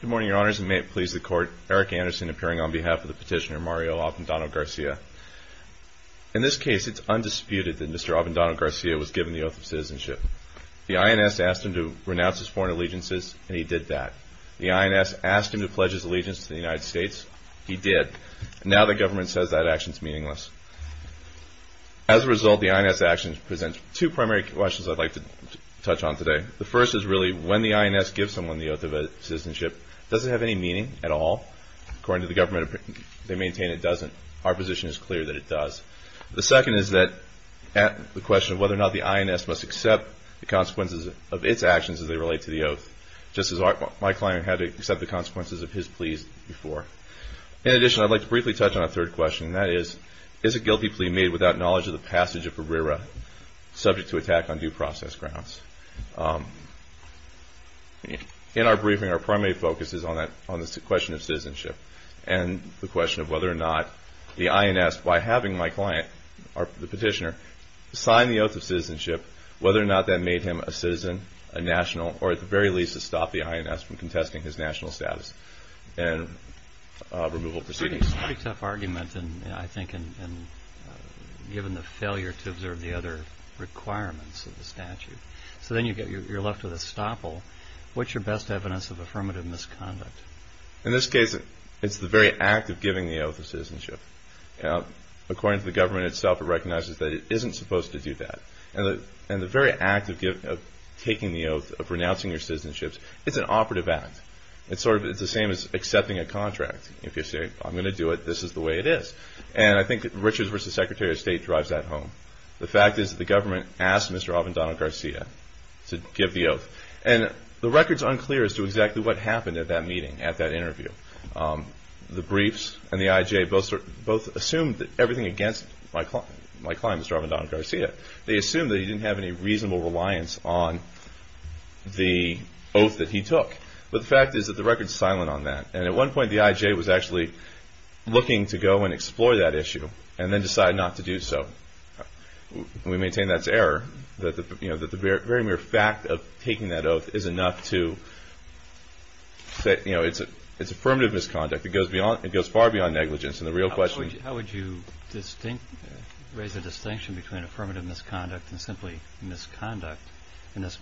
Good morning, Your Honors, and may it please the Court, Eric Anderson appearing on behalf of the petitioner Mario Abendano-Garcia. In this case, it is undisputed that Mr. Abendano-Garcia was given the oath of citizenship. The INS asked him to renounce his foreign allegiances, and he did that. The INS asked him to pledge his allegiance to the United States, and he did that. As a result, the INS actions present two primary questions I'd like to touch on today. The first is really, when the INS gives someone the oath of citizenship, does it have any meaning at all? According to the government, they maintain it doesn't. Our position is clear that it does. The second is the question of whether or not the INS must accept the consequences of its actions as they relate to the oath, just as my client had to accept the consequences of his pleas before. In addition, I'd like to briefly touch on a third question, and that is, is a guilty plea made without knowledge of the passage of a RERA subject to attack on due process grounds? In our briefing, our primary focus is on the question of citizenship, and the question of whether or not the INS, by having my client, the petitioner, sign the oath of citizenship, whether or not that made him a citizen, a national, or at the very least, to stop the INS from contesting his national status and removal proceedings. It's a pretty tough argument, I think, given the failure to observe the other requirements of the statute. So then you're left with a stopple. What's your best evidence of affirmative misconduct? In this case, it's the very act of giving the oath of citizenship. According to the government itself, it recognizes that it isn't supposed to do that. And the very act of taking the oath, of renouncing your citizenship, it's an operative act. It's the same as accepting a contract. If you say, I'm going to do it, this is the way it is. And I think that Richards v. Secretary of State drives that home. The fact is that the government asked Mr. Avendano-Garcia to give the oath. And the record's unclear as to exactly what happened at that meeting, at that interview. The briefs and the IJA both assumed that everything against my client, Mr. Avendano-Garcia, they assumed that he didn't have any reasonable reliance on the government. At some point, the IJA was actually looking to go and explore that issue, and then decide not to do so. We maintain that's error, that the very mere fact of taking that oath is enough to say it's affirmative misconduct. It goes far beyond negligence. And the real question is... How would you raise the distinction between affirmative misconduct and simply misconduct?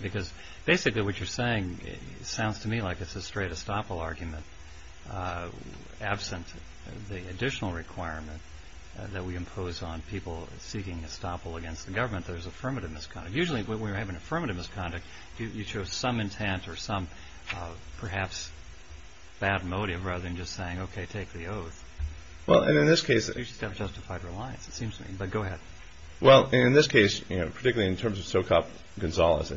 Because basically what you're saying sounds to me like it's a straight estoppel argument. Absent the additional requirement that we impose on people seeking estoppel against the government, there's affirmative misconduct. Usually when we're having affirmative misconduct, you show some intent or some perhaps bad motive, rather than just saying, okay, take the oath. Well, in this case... You just have justified reliance, it seems to me. But go ahead. Well, in this case, particularly in terms of Socop and Gonzalez,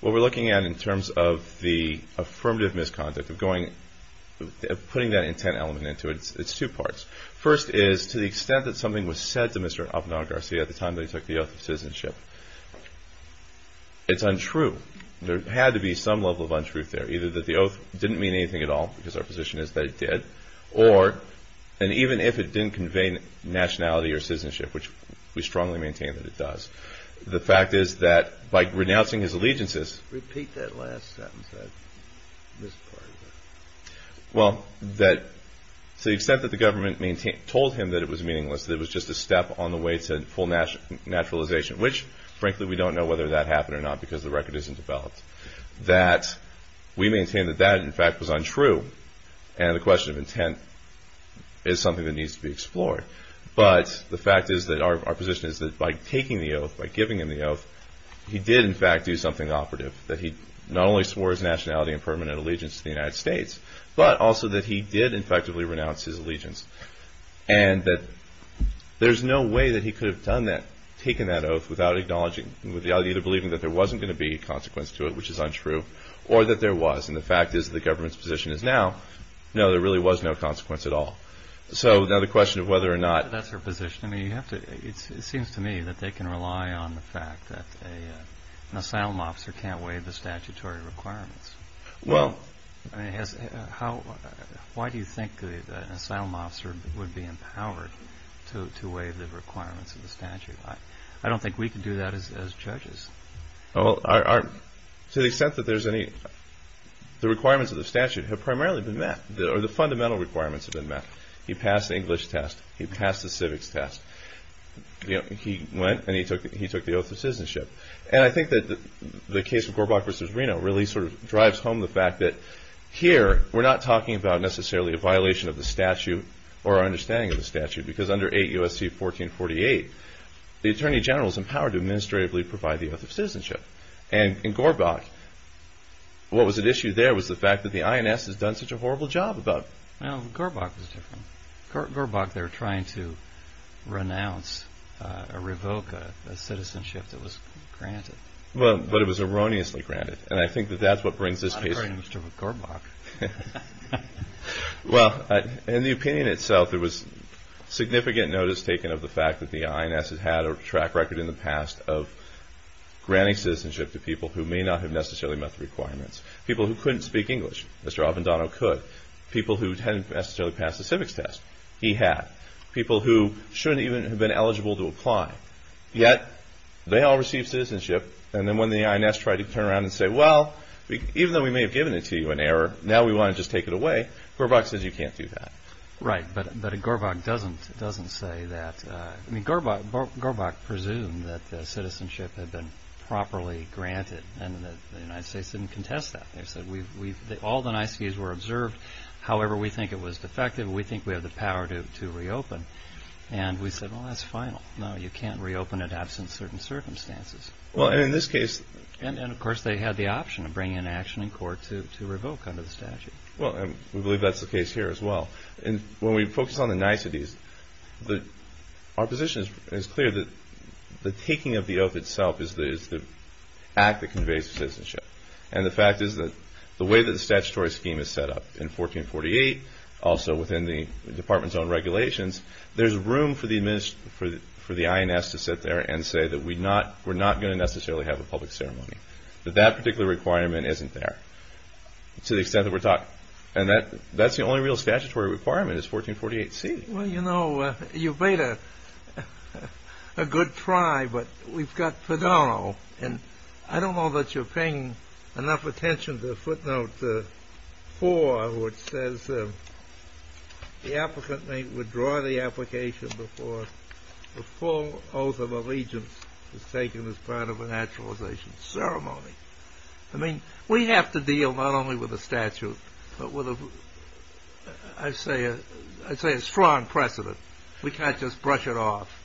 what we're looking at in terms of the affirmative misconduct, of putting that intent element into it, it's two parts. First is, to the extent that something was said to Mr. Avendano-Garcia at the time that he took the oath of citizenship, it's untrue. There had to be some level of untruth there. Either that the oath didn't mean anything at all, because our position is that it did, or, and even if it didn't convey nationality or citizenship, which we strongly maintain that it does, the fact is that by renouncing his allegiances... Repeat that last sentence I misquoted. Well, to the extent that the government told him that it was meaningless, that it was just a step on the way to full naturalization, which, frankly, we don't know whether that happened or not, because the record isn't developed, that we maintain that that, in fact, was untrue, and the question of intent is something that needs to be explored. But the fact is that our position is that by taking the oath, by giving him the oath, he did, in fact, do something operative, that he not only swore his nationality and permanent allegiance to the United States, but also that he did, effectively, renounce his allegiance, and that there's no way that he could have taken that oath without acknowledging, with the idea of believing that there wasn't going to be a consequence to it, which is untrue, or that there was, and the fact is that the government's position is now, no, there really was no consequence at all. So now the question of whether or not... That's your position. I mean, you have to... It seems to me that they can rely on the fact that an asylum officer can't waive the statutory requirements. Well... I mean, has... How... Why do you think that an asylum officer would be empowered to waive the requirements of the statute? I don't think we can do that as judges. Well, to the extent that there's any... The requirements of the statute have primarily been met, or the fundamental requirements have been met. He passed the English test. He passed the civics test. He went and he took the oath of citizenship. And I think that the case of Gorbach v. Reno really sort of drives home the fact that, here, we're not talking about, necessarily, a violation of the statute, or our understanding of the statute, because under 8 U.S.C. 1448, the Attorney General is empowered to administratively provide the oath of citizenship. And in Gorbach, what was at issue there was the fact that the INS has done such a horrible job about... Well, Gorbach was different. Gorbach, they were trying to renounce or revoke a citizenship that was granted. Well, but it was erroneously granted. And I think that that's what brings this case... I'm not afraid of Mr. Gorbach. Well, in the opinion itself, there was significant notice taken of the fact that the INS has had a track record in the past of granting citizenship to people who may not have necessarily met the requirements. People who couldn't speak English, Mr. Avendano could. People who hadn't necessarily passed the civics test, he had. People who shouldn't even have been eligible to apply. Yet, they all received citizenship, and then when the INS tried to turn around and say, well, even though we may have given it to you in error, now we want to just take it away, Gorbach says you can't do that. Right, but Gorbach doesn't say that. I mean, Gorbach presumed that the citizenship had been properly granted, and that the United States didn't contest that. They said all the nice views were observed. However, we think it was defective. We think we have the power to reopen. And we said, well, that's final. No, you can't reopen it absent certain circumstances. Well, and in this case... And of course, they had the option of bringing an action in court to revoke under the statute. Well, and we believe that's the case here as well. And when we focus on the niceties, our position is clear that the taking of the oath itself is the act that conveys citizenship. And the fact is that the way that the statutory scheme is set up in 1448, also within the department's own regulations, there's room for the INS to sit there and say that we're not going to necessarily have a public ceremony, that that particular requirement isn't there to the extent that we're talking. And that's the only real statutory requirement is 1448C. Well, you know, you've made a good try, but we've got Padano. And I don't know that you're paying enough attention to footnote four, which says the applicant may withdraw the application before the full oath of allegiance is taken as part of a naturalization ceremony. I mean, we have to deal not only with the statute, but with, I'd say, a strong precedent. We can't just brush it off.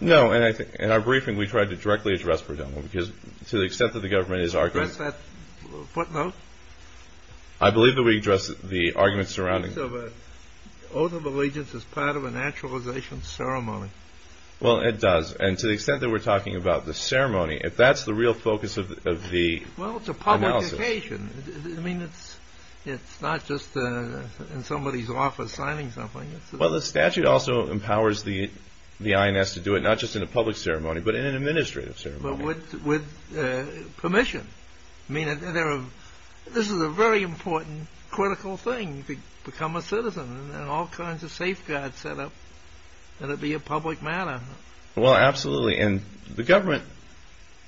No, and I think in our briefing we tried to directly address Padano, because to the extent that the government is arguing... Is that footnote? I believe that we addressed the argument surrounding... So the oath of allegiance is part of a naturalization ceremony. Well, it does. And to the extent that we're talking about the ceremony, if that's the real focus of the analysis... Well, it's a public occasion. I mean, it's not just in somebody's office signing something. Well, the statute also empowers the INS to do it not just in a public ceremony, but in an administrative ceremony. But with permission. I mean, this is a very important, critical thing to become a citizen, and all kinds of safeguards set up that it be a public matter. Well, absolutely. And the government,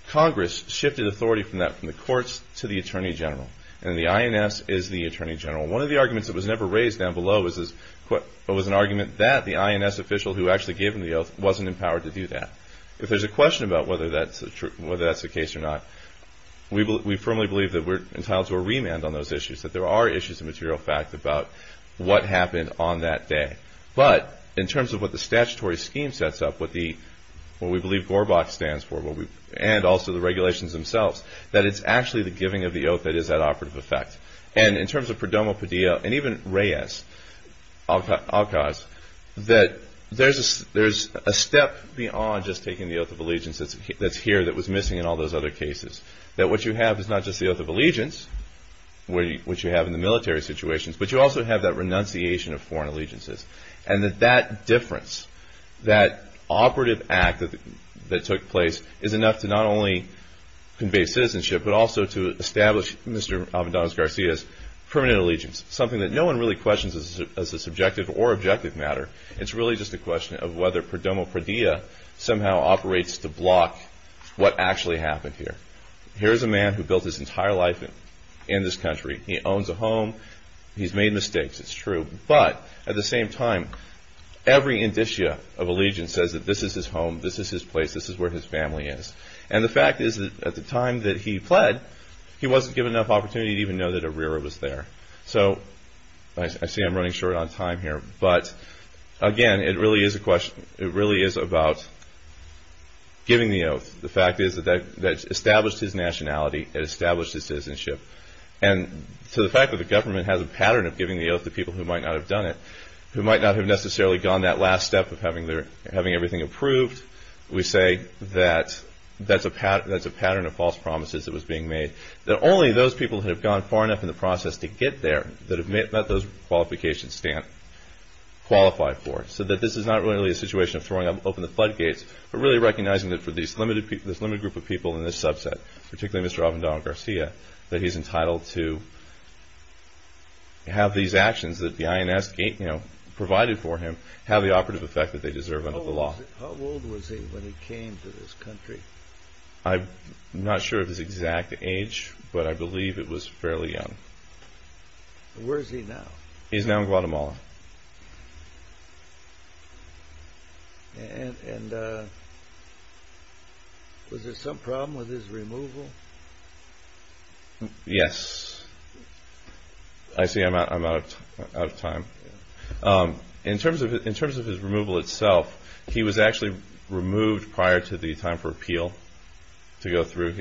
Congress, shifted authority from that from the courts to the Attorney General. And the INS is the Attorney General. One of the arguments that was never raised down below was an argument that the INS official who actually gave him the oath wasn't empowered to do that. If there's a question about whether that's the case or not, we firmly believe that we're entitled to a remand on those issues, that there are issues of material fact about what happened on that day. But in terms of what the statutory scheme sets up, what we believe GORBACH stands for, and also the regulations themselves, that it's actually the giving of the oath that is at operative effect. And in terms of Perdomo Padilla, and even Reyes, Alcaz, that there's a step beyond just taking the Oath of Allegiance that's here that was missing in all those other cases. That what you have is not just the Oath of Allegiance, which you have in the military situations, but you also have that renunciation of foreign allegiances. And that that difference, that operative act that took place, is enough to not only convey citizenship, but also to establish Mr. Avendano's Garcia's permanent allegiance. Something that no one really questions as a subjective or objective matter. It's really just a question of whether Perdomo Padilla somehow operates to block what actually happened here. Here's a man who built his entire life in this country. He owns a home. He's made mistakes. It's true. But at the same time, every indicia of allegiance says that this is his home. This is his place. This is where his family is. And the fact is that at the time that he pled, he wasn't given enough opportunity to even know that Herrera was there. So I see I'm running short on time here. But again, it really is a question. It really is about giving the oath. The fact is that that established his nationality. It established his citizenship. And to the fact that the government has a pattern of giving the oath to people who might not have done it, who might not have necessarily gone that last step of having everything approved, we say that that's a pattern of false promises that was being made. That only those people who have gone far enough in the process to get there that have met those qualifications stand qualified for it. So that this is not really a situation of throwing open the floodgates, but really recognizing that for this limited group of people in this subset, particularly Mr. Avendano Garcia, that he's entitled to have these actions that the INS provided for him have the operative effect that they deserve under the law. How old was he when he came to this country? I'm not sure of his exact age, but I believe it was fairly young. Where is he now? He's now in Guatemala. And was there some problem with his removal? Yes. I see I'm out of time. In terms of his removal itself, he was actually removed prior to the time for appeal to go through,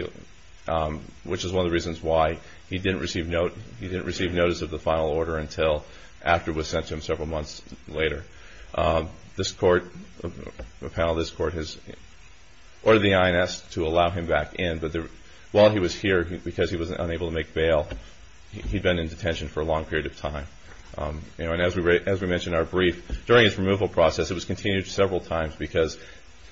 which is one of the reasons why he didn't receive notice of the final order until after it was sent to him several months later. The panel of this court has ordered the INS to allow him back in, but while he was here, because he was unable to make bail, he'd been in detention for a long period of time. And as we mentioned in our brief, during his removal process, it was continued several times because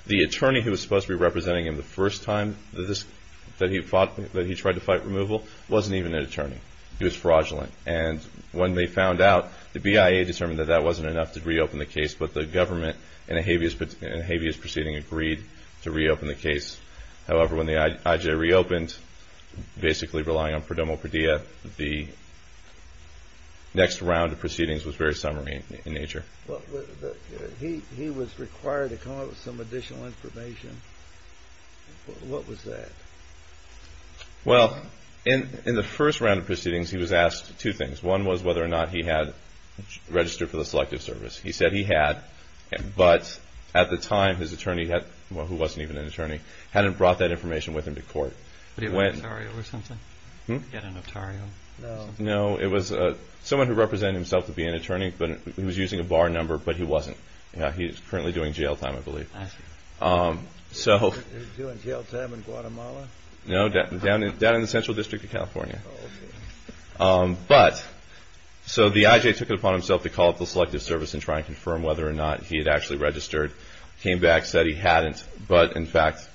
the attorney who was supposed to be representing him the first time that he tried to fight removal wasn't even an attorney. He was fraudulent. And when they found out, the BIA determined that that wasn't enough to reopen the case, but the government in a habeas proceeding agreed to reopen the case. However, when the IJA reopened, basically relying on Prodomo-Perdia, the next round of proceedings was very summary in nature. He was required to come out with some additional information. What was that? Well, in the first round of proceedings, he was asked two things. One was whether or not he had registered for the selective service. He said he had, but at the time, his attorney, who wasn't even an attorney, hadn't brought that information with him to court. But he had an attorney or something? No, it was someone who represented himself to be an attorney, but he was using a bar number, but he wasn't. He's currently doing jail time, I believe. He's doing jail time in Guatemala? No, down in the Central District of California. But so the IJA took it upon himself to call up the selective service and try and confirm whether or not he had actually registered, came back, said he hadn't. But, in fact,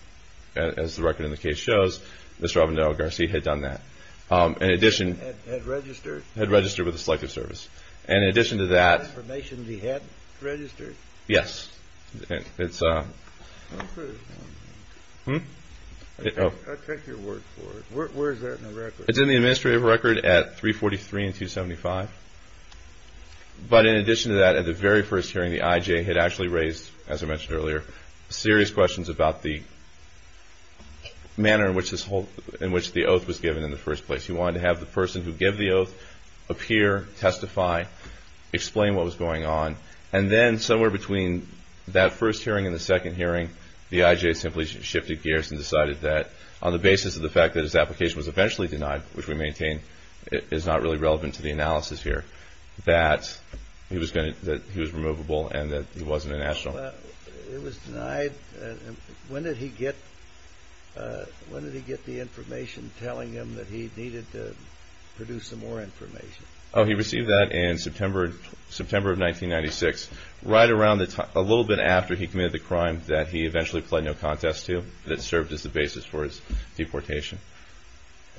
as the record in the case shows, Mr. Robin Delgarcy had done that. Had registered? Had registered with the selective service. And in addition to that. Information he hadn't registered? Yes. I'll take your word for it. Where is that in the record? It's in the administrative record at 343 and 275. But in addition to that, at the very first hearing, the IJA had actually raised, as I mentioned earlier, serious questions about the manner in which the oath was given in the first place. He wanted to have the person who gave the oath appear, testify, explain what was going on, and then somewhere between that first hearing and the second hearing, the IJA simply shifted gears and decided that on the basis of the fact that his application was eventually denied, which we maintain is not really relevant to the analysis here, that he was removable and that he wasn't a national. It was denied? When did he get the information telling him that he needed to produce some more information? Oh, he received that in September of 1996, right around the time, a little bit after he committed the crime that he eventually pled no contest to, that served as the basis for his deportation.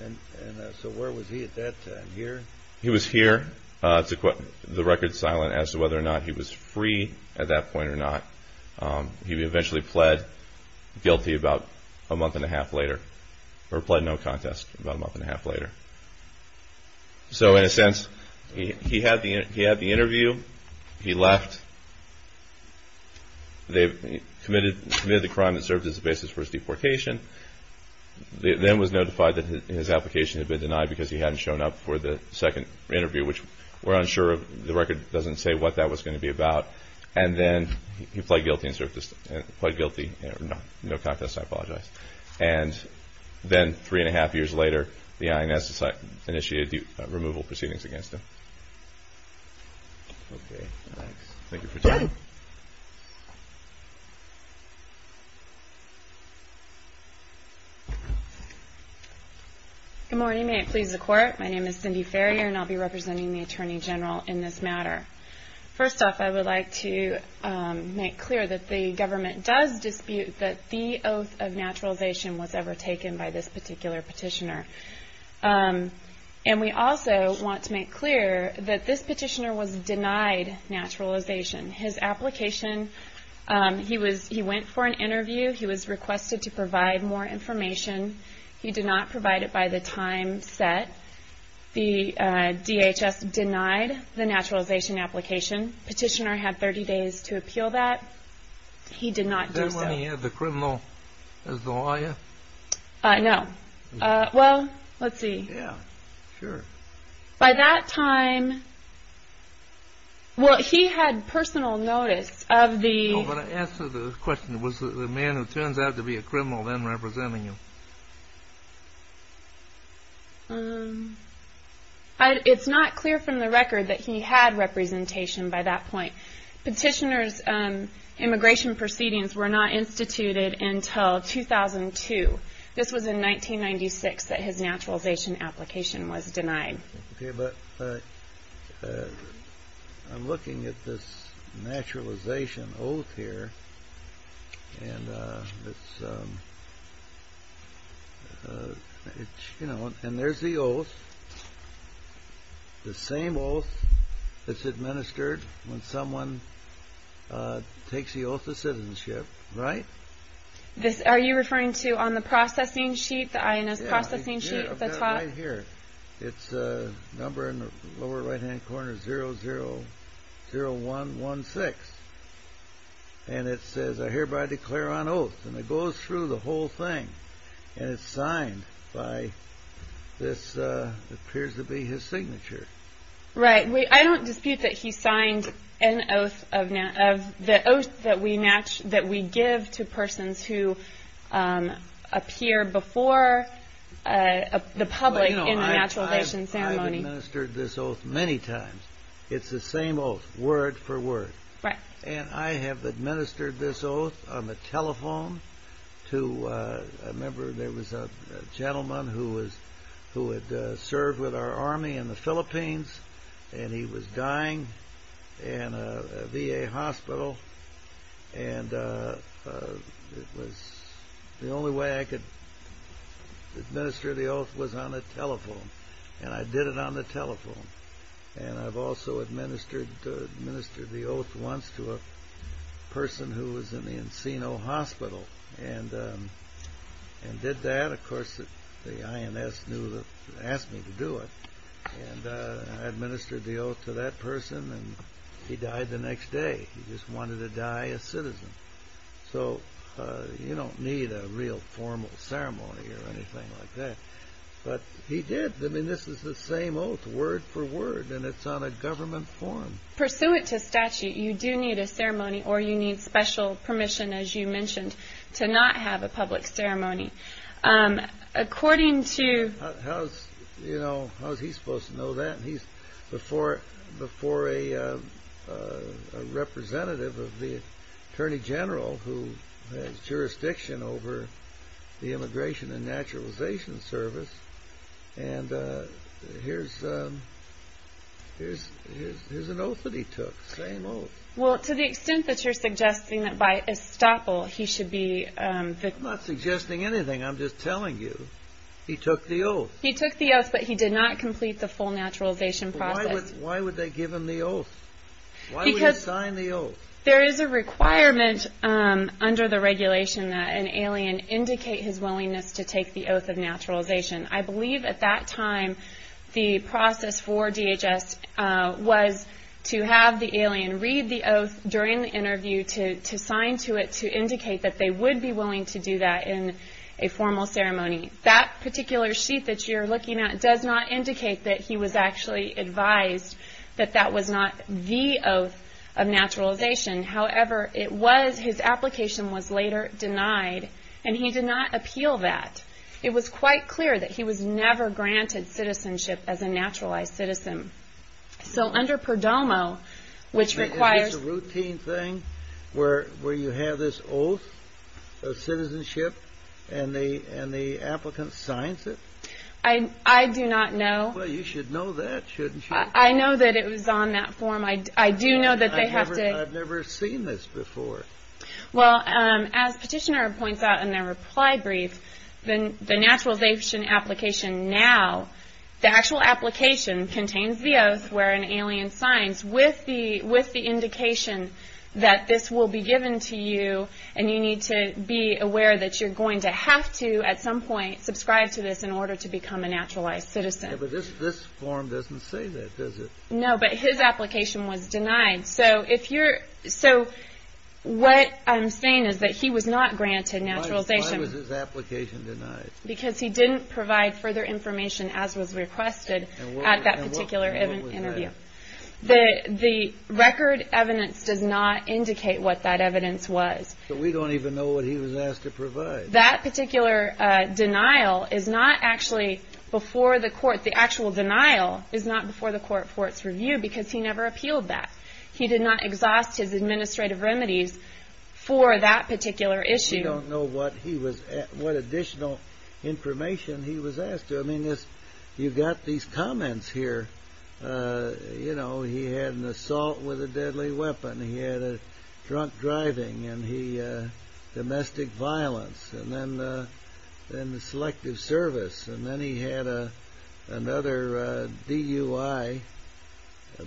And so where was he at that time, here? He was here. The record's silent as to whether or not he was free at that point or not. He eventually pled guilty about a month and a half later, or pled no contest about a month and a half later. So in a sense, he had the interview, he left, committed the crime that served as the basis for his deportation, then was notified that his application had been denied because he hadn't shown up for the second interview, which we're unsure of. The record doesn't say what that was going to be about. And then he pled guilty, no contest, I apologize. And then three and a half years later, the INS initiated the removal proceedings against him. Okay, thanks. Thank you for your time. Good morning. May it please the Court. My name is Cindy Farrier, and I'll be representing the Attorney General in this matter. First off, I would like to make clear that the government does dispute that the oath of naturalization was ever taken by this particular petitioner. And we also want to make clear that this petitioner was denied naturalization. His application, he went for an interview, he was requested to provide more information. He did not provide it by the time set. The DHS denied the naturalization application. Petitioner had 30 days to appeal that. He did not do so. Is that when he had the criminal as the lawyer? No. Well, let's see. Yeah, sure. By that time, well, he had personal notice of the – It's not clear from the record that he had representation by that point. Petitioner's immigration proceedings were not instituted until 2002. This was in 1996 that his naturalization application was denied. Okay, but I'm looking at this naturalization oath here. And it's – you know, and there's the oath. The same oath that's administered when someone takes the oath of citizenship, right? Are you referring to on the processing sheet, the INS processing sheet at the top? Yeah, right here. It's a number in the lower right-hand corner, 000116. And it says, I hereby declare on oath. And it goes through the whole thing. And it's signed by – this appears to be his signature. Right. I don't dispute that he signed an oath of – the oath that we give to persons who appear before the public in a naturalization ceremony. I've administered this oath many times. It's the same oath, word for word. Right. And I have administered this oath on the telephone to – I remember there was a gentleman who had served with our army in the Philippines. And he was dying in a VA hospital. And it was – the only way I could administer the oath was on the telephone. And I did it on the telephone. And I've also administered the oath once to a person who was in the Encino Hospital and did that. Of course, the INS asked me to do it. And I administered the oath to that person. And he died the next day. He just wanted to die a citizen. So you don't need a real formal ceremony or anything like that. But he did. I mean, this is the same oath, word for word. And it's on a government form. Pursuant to statute, you do need a ceremony or you need special permission, as you mentioned, to not have a public ceremony. According to – How's – you know, how's he supposed to know that? He's before a representative of the Attorney General who has jurisdiction over the Immigration and Naturalization Service. And here's an oath that he took. Same oath. Well, to the extent that you're suggesting that by estoppel, he should be the – I'm not suggesting anything. I'm just telling you he took the oath. He took the oath, but he did not complete the full naturalization process. Why would they give him the oath? Why would he sign the oath? Because there is a requirement under the regulation that an alien indicate his willingness to take the oath of naturalization. I believe at that time the process for DHS was to have the alien read the oath during the interview, to sign to it to indicate that they would be willing to do that in a formal ceremony. That particular sheet that you're looking at does not indicate that he was actually advised that that was not the oath of naturalization. However, his application was later denied, and he did not appeal that. It was quite clear that he was never granted citizenship as a naturalized citizen. So under Perdomo, which requires – Is this a routine thing where you have this oath of citizenship and the applicant signs it? I do not know. Well, you should know that, shouldn't you? I know that it was on that form. I do know that they have to – I've never seen this before. Well, as Petitioner points out in their reply brief, the naturalization application now, the actual application contains the oath where an alien signs with the indication that this will be given to you, and you need to be aware that you're going to have to, at some point, subscribe to this in order to become a naturalized citizen. Yeah, but this form doesn't say that, does it? No, but his application was denied. So if you're – so what I'm saying is that he was not granted naturalization. Why was his application denied? Because he didn't provide further information as was requested at that particular interview. And what was that? The record evidence does not indicate what that evidence was. But we don't even know what he was asked to provide. That particular denial is not actually before the court. The actual denial is not before the court's review because he never appealed that. He did not exhaust his administrative remedies for that particular issue. We don't know what he was – what additional information he was asked to. I mean, you've got these comments here. You know, he had an assault with a deadly weapon. He had a drunk driving and domestic violence and then selective service. And then he had another DUI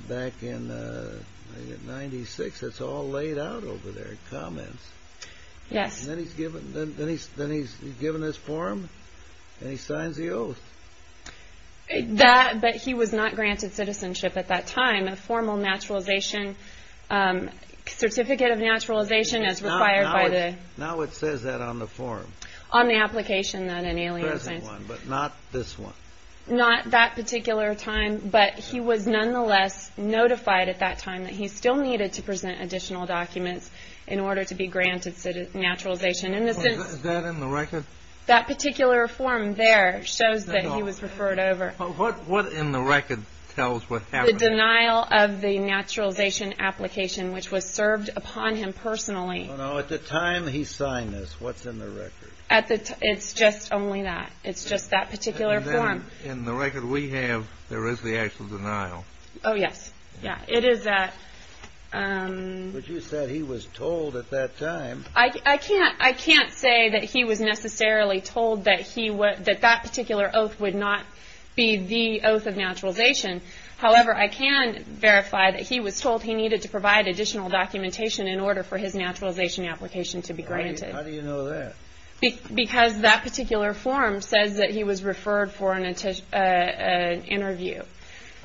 back in 1996. That's all laid out over there, comments. Yes. And then he's given this form and he signs the oath. That – but he was not granted citizenship at that time. A formal naturalization – certificate of naturalization as required by the – Now it says that on the form. On the application then in Alien Science. This one, but not this one. Not that particular time, but he was nonetheless notified at that time that he still needed to present additional documents in order to be granted naturalization. Is that in the record? That particular form there shows that he was referred over. What in the record tells what happened? The denial of the naturalization application, which was served upon him personally. Oh, no. At the time he signed this, what's in the record? At the – it's just only that. It's just that particular form. And then in the record we have, there is the actual denial. Oh, yes. Yeah. It is that. But you said he was told at that time. I can't say that he was necessarily told that that particular oath would not be the oath of naturalization. However, I can verify that he was told he needed to provide additional documentation in order for his naturalization application to be granted. How do you know that? Because that particular form says that he was referred for an interview.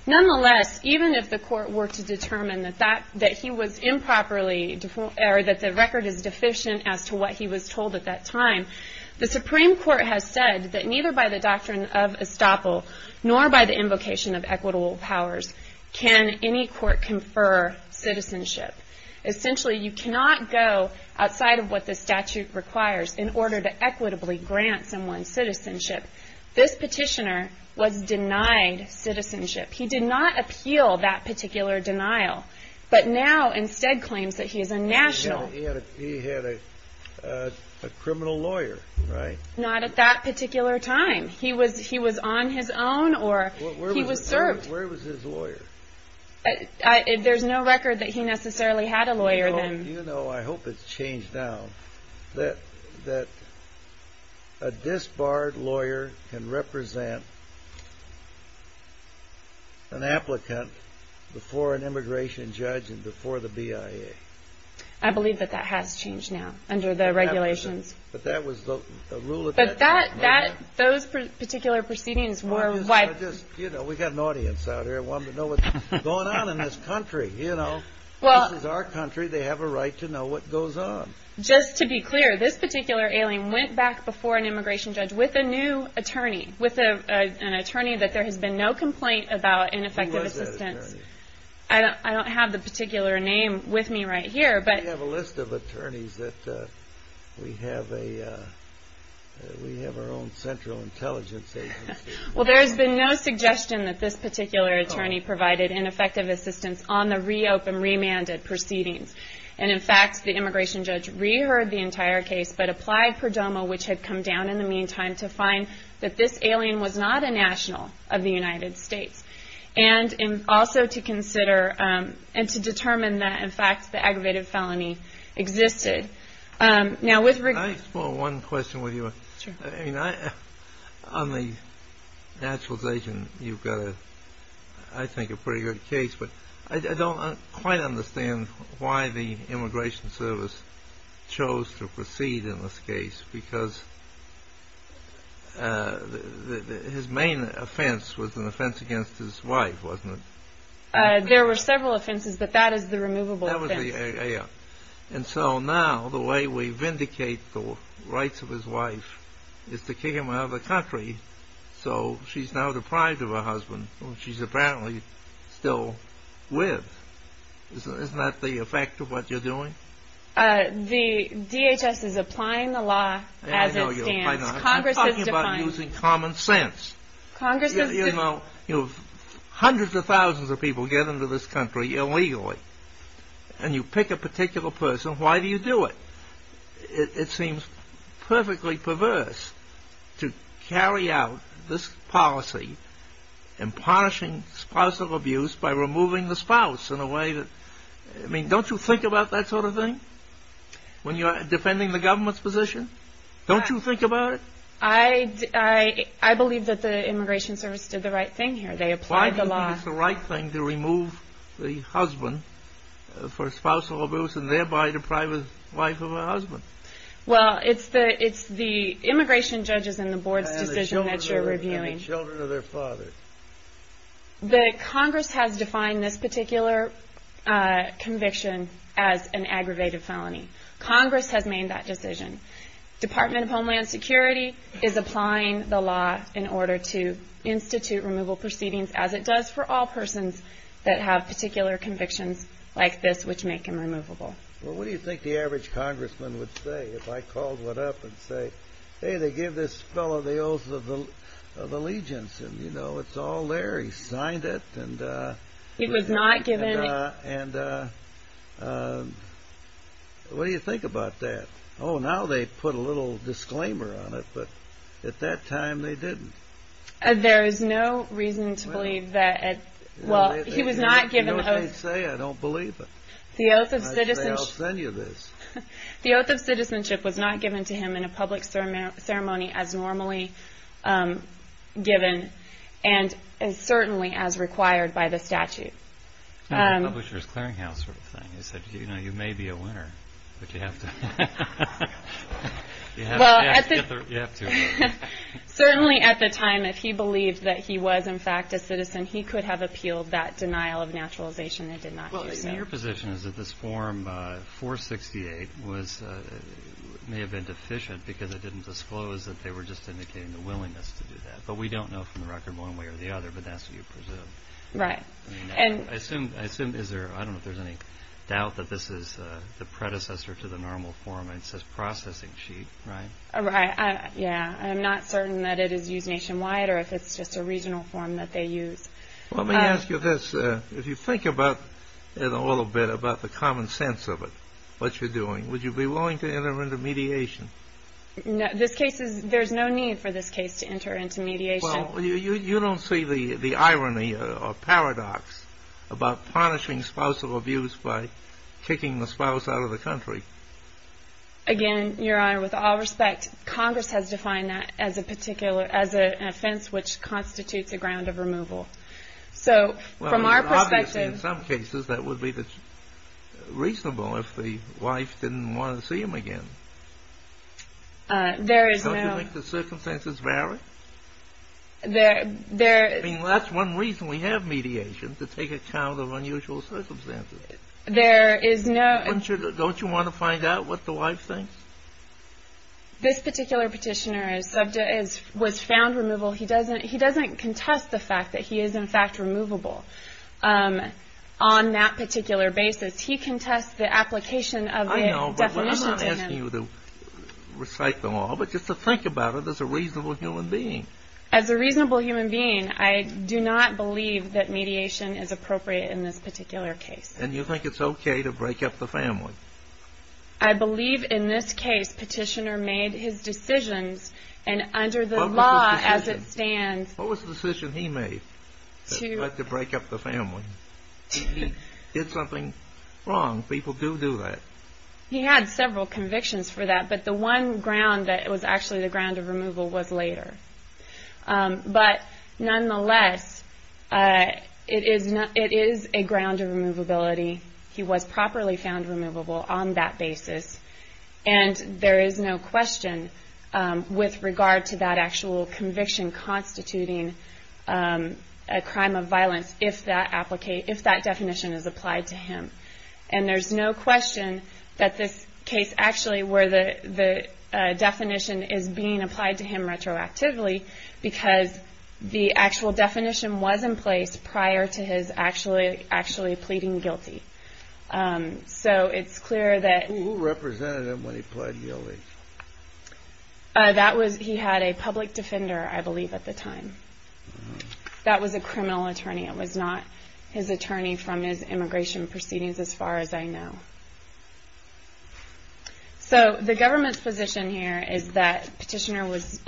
Nonetheless, even if the court were to determine that he was improperly – or that the record is deficient as to what he was told at that time, the Supreme Court has said that neither by the doctrine of estoppel nor by the invocation of equitable powers can any court confer citizenship. Essentially, you cannot go outside of what the statute requires in order to equitably grant someone citizenship. This petitioner was denied citizenship. He did not appeal that particular denial, but now instead claims that he is a national. He had a criminal lawyer, right? Not at that particular time. He was on his own or he was served. Where was his lawyer? There's no record that he necessarily had a lawyer then. You know, I hope it's changed now, that a disbarred lawyer can represent an applicant before an immigration judge and before the BIA. I believe that that has changed now under the regulations. But that was the rule at that time, right? Those particular proceedings were – We've got an audience out here wanting to know what's going on in this country. This is our country. They have a right to know what goes on. Just to be clear, this particular alien went back before an immigration judge with a new attorney, with an attorney that there has been no complaint about ineffective assistance. Who was that attorney? I don't have the particular name with me right here. We have a list of attorneys that we have our own central intelligence agency. Well, there's been no suggestion that this particular attorney provided ineffective assistance on the reopened, remanded proceedings. And, in fact, the immigration judge reheard the entire case but applied Perdomo, which had come down in the meantime, to find that this alien was not a national of the United States. And also to consider and to determine that, in fact, the aggravated felony existed. Can I explore one question with you? Sure. On the naturalization, you've got, I think, a pretty good case. But I don't quite understand why the Immigration Service chose to proceed in this case because his main offense was an offense against his wife, wasn't it? There were several offenses, but that is the removable offense. And so now the way we vindicate the rights of his wife is to kick him out of the country. So she's now deprived of her husband, whom she's apparently still with. Isn't that the effect of what you're doing? The DHS is applying the law as it stands. I know you're applying the law. I'm talking about using common sense. You know, hundreds of thousands of people get into this country illegally, and you pick a particular person. Why do you do it? It seems perfectly perverse to carry out this policy in punishing spousal abuse by removing the spouse in a way that, I mean, don't you think about that sort of thing when you're defending the government's position? Don't you think about it? I believe that the Immigration Service did the right thing here. They applied the law. Why do you think it's the right thing to remove the husband for spousal abuse and thereby deprive the wife of her husband? Well, it's the immigration judges and the board's decision that you're reviewing. And the children of their fathers. Congress has defined this particular conviction as an aggravated felony. Congress has made that decision. Department of Homeland Security is applying the law in order to institute removal proceedings, as it does for all persons that have particular convictions like this which make them removable. Well, what do you think the average congressman would say if I called one up and said, hey, they gave this fellow the oath of allegiance, and, you know, it's all there. He signed it. He was not given it. And what do you think about that? Oh, now they put a little disclaimer on it, but at that time they didn't. There is no reason to believe that. Well, he was not given the oath. You know what they say, I don't believe it. I'll send you this. The oath of citizenship was not given to him in a public ceremony as normally given and certainly as required by the statute. Publishers' clearing house sort of thing. You may be a winner, but you have to. You have to. Certainly at the time, if he believed that he was in fact a citizen, he could have appealed that denial of naturalization and did not do so. Your position is that this form 468 may have been deficient because it didn't disclose that they were just indicating the willingness to do that. But we don't know from the record one way or the other, but that's what you presume. Right. I assume, I don't know if there's any doubt that this is the predecessor to the normal form. It says processing sheet, right? Yeah. I'm not certain that it is used nationwide or if it's just a regional form that they use. Let me ask you this. If you think about it a little bit, about the common sense of it, what you're doing, would you be willing to enter into mediation? There's no need for this case to enter into mediation. Well, you don't see the irony or paradox about punishing spousal abuse by kicking the spouse out of the country. Again, Your Honor, with all respect, Congress has defined that as an offense which constitutes a ground of removal. So from our perspective- Well, obviously in some cases that would be reasonable if the wife didn't want to see him again. There is no- I mean, that's one reason we have mediation, to take account of unusual circumstances. There is no- Don't you want to find out what the wife thinks? This particular petitioner was found removable. He doesn't contest the fact that he is in fact removable on that particular basis. He contests the application of the definition to him. I know, but I'm not asking you to recite the law, but just to think about it as a reasonable human being. As a reasonable human being, I do not believe that mediation is appropriate in this particular case. And you think it's okay to break up the family? I believe in this case petitioner made his decisions, and under the law as it stands- What was the decision he made to break up the family? He did something wrong. People do do that. He had several convictions for that, but the one ground that was actually the ground of removal was later. But nonetheless, it is a ground of removability. He was properly found removable on that basis. And there is no question with regard to that actual conviction constituting a crime of violence, if that definition is applied to him. And there's no question that this case actually where the definition is being applied to him retroactively, because the actual definition was in place prior to his actually pleading guilty. So it's clear that- Who represented him when he pled guilty? He had a public defender, I believe, at the time. That was a criminal attorney. It was not his attorney from his immigration proceedings as far as I know. So the government's position here is that petitioner was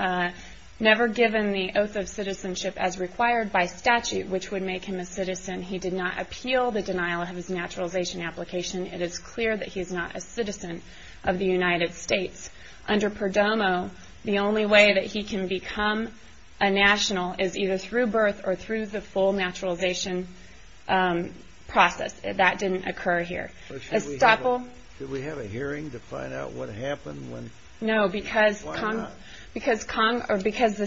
never given the oath of citizenship as required by statute, which would make him a citizen. He did not appeal the denial of his naturalization application. It is clear that he is not a citizen of the United States. Under Perdomo, the only way that he can become a national is either through birth or through the full naturalization process. That didn't occur here. Did we have a hearing to find out what happened? No, because the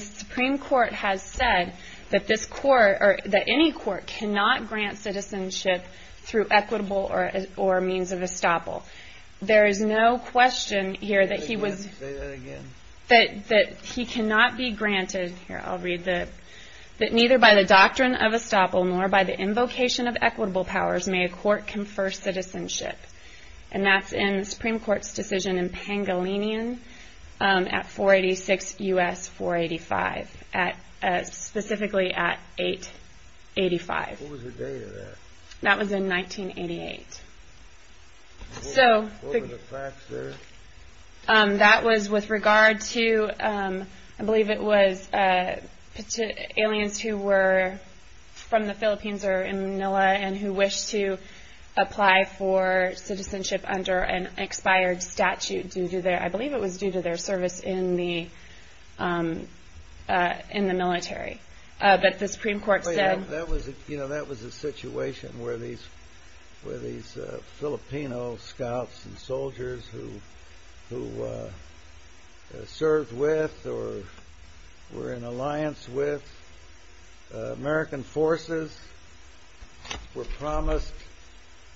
Supreme Court has said that any court cannot grant citizenship through equitable or means of estoppel. There is no question here that he was- Say that again. That he cannot be granted- here, I'll read the- that neither by the doctrine of estoppel nor by the invocation of equitable powers may a court confer citizenship. And that's in the Supreme Court's decision in Pangolinian at 486 U.S. 485, specifically at 885. What was the date of that? That was in 1988. So- What were the facts there? That was with regard to, I believe it was aliens who were from the Philippines or in Manila and who wished to apply for citizenship under an expired statute due to their- I believe it was due to their service in the military. But the Supreme Court said- That was a situation where these Filipino scouts and soldiers who served with or were in alliance with American forces were promised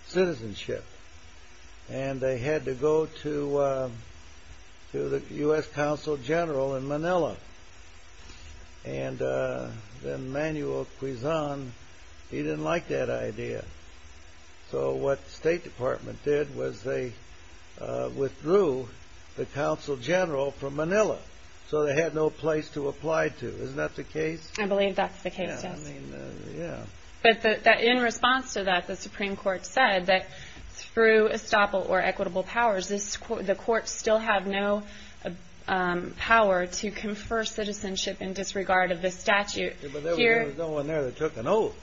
citizenship. And they had to go to the U.S. Consul General in Manila. And Emmanuel Quizon, he didn't like that idea. So what the State Department did was they withdrew the Consul General from Manila. So they had no place to apply to. Isn't that the case? I believe that's the case, yes. Yeah, I mean, yeah. But in response to that, the Supreme Court said that through estoppel or equitable powers, the courts still have no power to confer citizenship in disregard of this statute. But there was no one there that took an oath.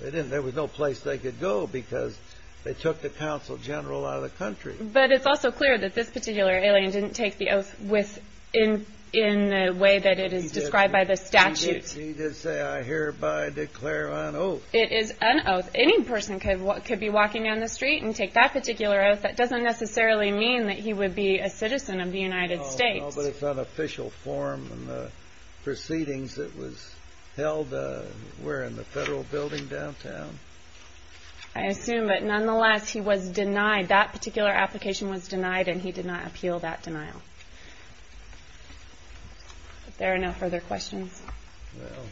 There was no place they could go because they took the Consul General out of the country. But it's also clear that this particular alien didn't take the oath in the way that it is described by the statute. He did say, I hereby declare an oath. It is an oath. Any person could be walking down the street and take that particular oath. That doesn't necessarily mean that he would be a citizen of the United States. No, but it's unofficial form and the proceedings that was held were in the Federal Building downtown. I assume. But nonetheless, he was denied. That particular application was denied, and he did not appeal that denial. If there are no further questions. Well,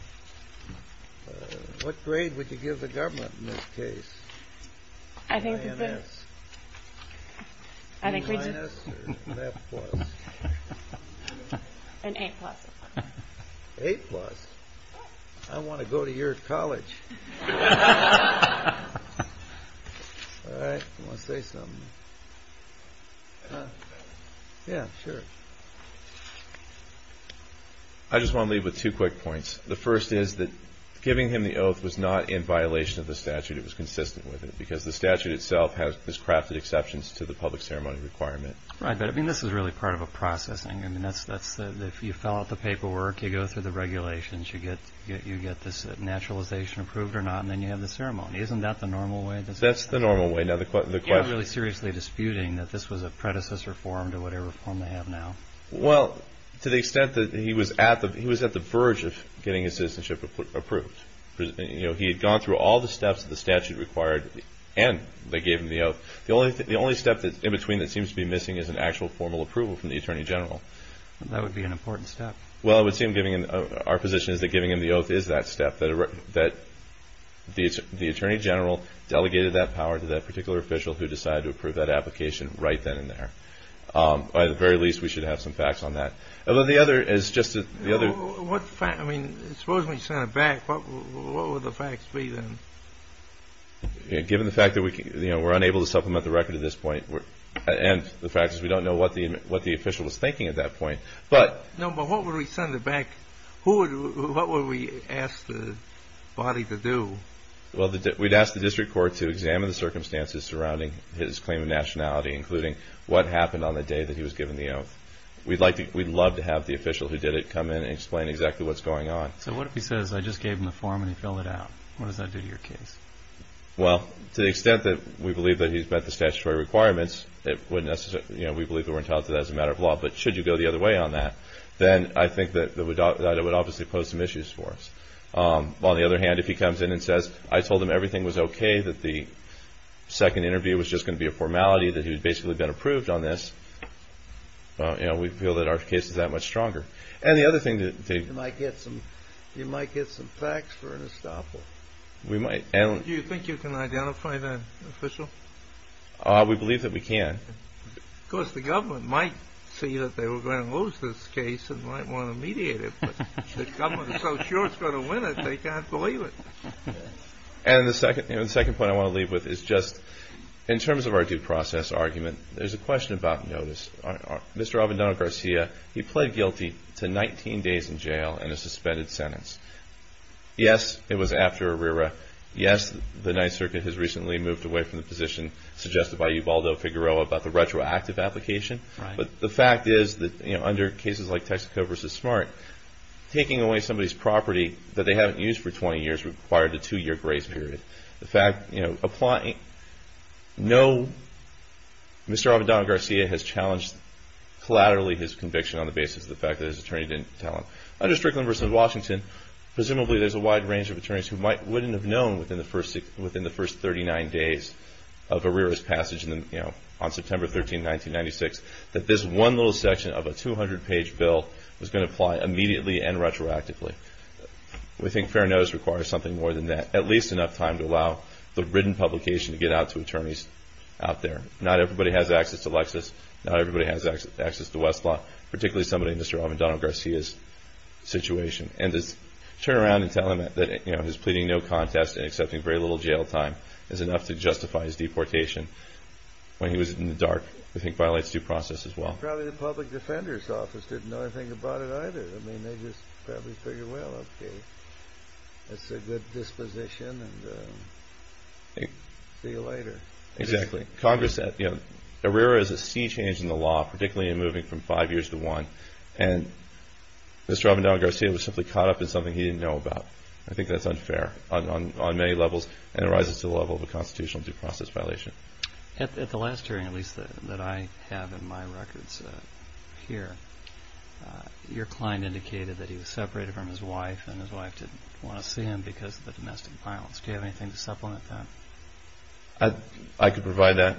what grade would you give the government in this case? I think. I think. An A plus. A plus. I want to go to your college. All right. I want to say something. Yeah, sure. I just want to leave with two quick points. The first is that giving him the oath was not in violation of the statute. It was consistent with it because the statute itself has crafted exceptions to the public ceremony requirement. Right, but I mean, this is really part of a processing. I mean, that's if you fill out the paperwork, you go through the regulations, you get this naturalization approved or not, and then you have the ceremony. Isn't that the normal way? That's the normal way. You're not really seriously disputing that this was a predecessor form to whatever form they have now. Well, to the extent that he was at the verge of getting his citizenship approved. He had gone through all the steps that the statute required, and they gave him the oath. The only step in between that seems to be missing is an actual formal approval from the Attorney General. That would be an important step. Well, our position is that giving him the oath is that step, that the Attorney General delegated that power to that particular official who decided to approve that application right then and there. By the very least, we should have some facts on that. Although the other is just the other. I mean, suppose we send it back. What would the facts be then? Given the fact that we're unable to supplement the record at this point and the fact is we don't know what the official was thinking at that point. No, but what would we send it back? What would we ask the body to do? Well, we'd ask the district court to examine the circumstances surrounding his claim of nationality, including what happened on the day that he was given the oath. We'd love to have the official who did it come in and explain exactly what's going on. So what if he says, I just gave him the form and he filled it out? What does that do to your case? Well, to the extent that we believe that he's met the statutory requirements, we believe we're entitled to that as a matter of law. But should you go the other way on that, then I think that it would obviously pose some issues for us. On the other hand, if he comes in and says, I told him everything was okay, that the second interview was just going to be a formality, that he had basically been approved on this, we feel that our case is that much stronger. And the other thing that they might get some facts for an estoppel. Do you think you can identify the official? We believe that we can. Of course, the government might see that they were going to lose this case and might want to mediate it. But if the government is so sure it's going to win it, they can't believe it. And the second point I want to leave with is just, in terms of our due process argument, there's a question about notice. Mr. Abendano-Garcia, he pled guilty to 19 days in jail and a suspended sentence. Yes, it was after Arrera. Yes, the Ninth Circuit has recently moved away from the position suggested by the retroactive application. But the fact is that under cases like Texaco v. Smart, taking away somebody's property that they haven't used for 20 years required a two-year grace period. Mr. Abendano-Garcia has challenged collaterally his conviction on the basis of the fact that his attorney didn't tell him. Under Strickland v. Washington, presumably there's a wide range of attorneys who wouldn't have known within the first 39 days of Arrera's passage on September 13, 1996, that this one little section of a 200-page bill was going to apply immediately and retroactively. We think fair notice requires something more than that, at least enough time to allow the written publication to get out to attorneys out there. Not everybody has access to Lexis. Not everybody has access to Westlaw, particularly somebody in Mr. Abendano-Garcia's situation. And to turn around and tell him that he's pleading no contest and accepting very little jail time is enough to justify his deportation when he was in the dark, I think violates due process as well. Probably the public defender's office didn't know anything about it either. I mean, they just probably figured, well, okay, that's a good disposition and see you later. Exactly. Congress said, you know, Arrera is a sea change in the law, particularly in moving from five years to one. And Mr. Abendano-Garcia was simply caught up in something he didn't know about. I think that's unfair on many levels, and it rises to the level of a constitutional due process violation. At the last hearing, at least that I have in my records here, your client indicated that he was separated from his wife and his wife didn't want to see him because of the domestic violence. Do you have anything to supplement that? I could provide that.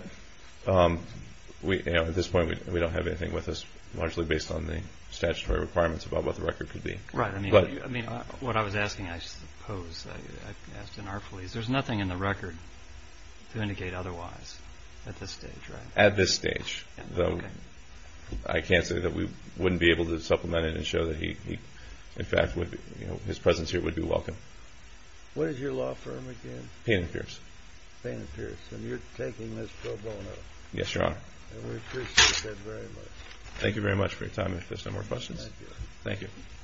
At this point, we don't have anything with us, largely based on the statutory requirements about what the record could be. Right. I mean, what I was asking, I suppose, I've asked in our place, there's nothing in the record to indicate otherwise at this stage, right? At this stage. Okay. I can't say that we wouldn't be able to supplement it and show that he, in fact, his presence here would be welcome. What is your law firm again? Payne & Pierce. Payne & Pierce. And you're taking this pro bono. Yes, Your Honor. And we appreciate that very much. Thank you very much for your time. If there's no more questions. Thank you. Thank you.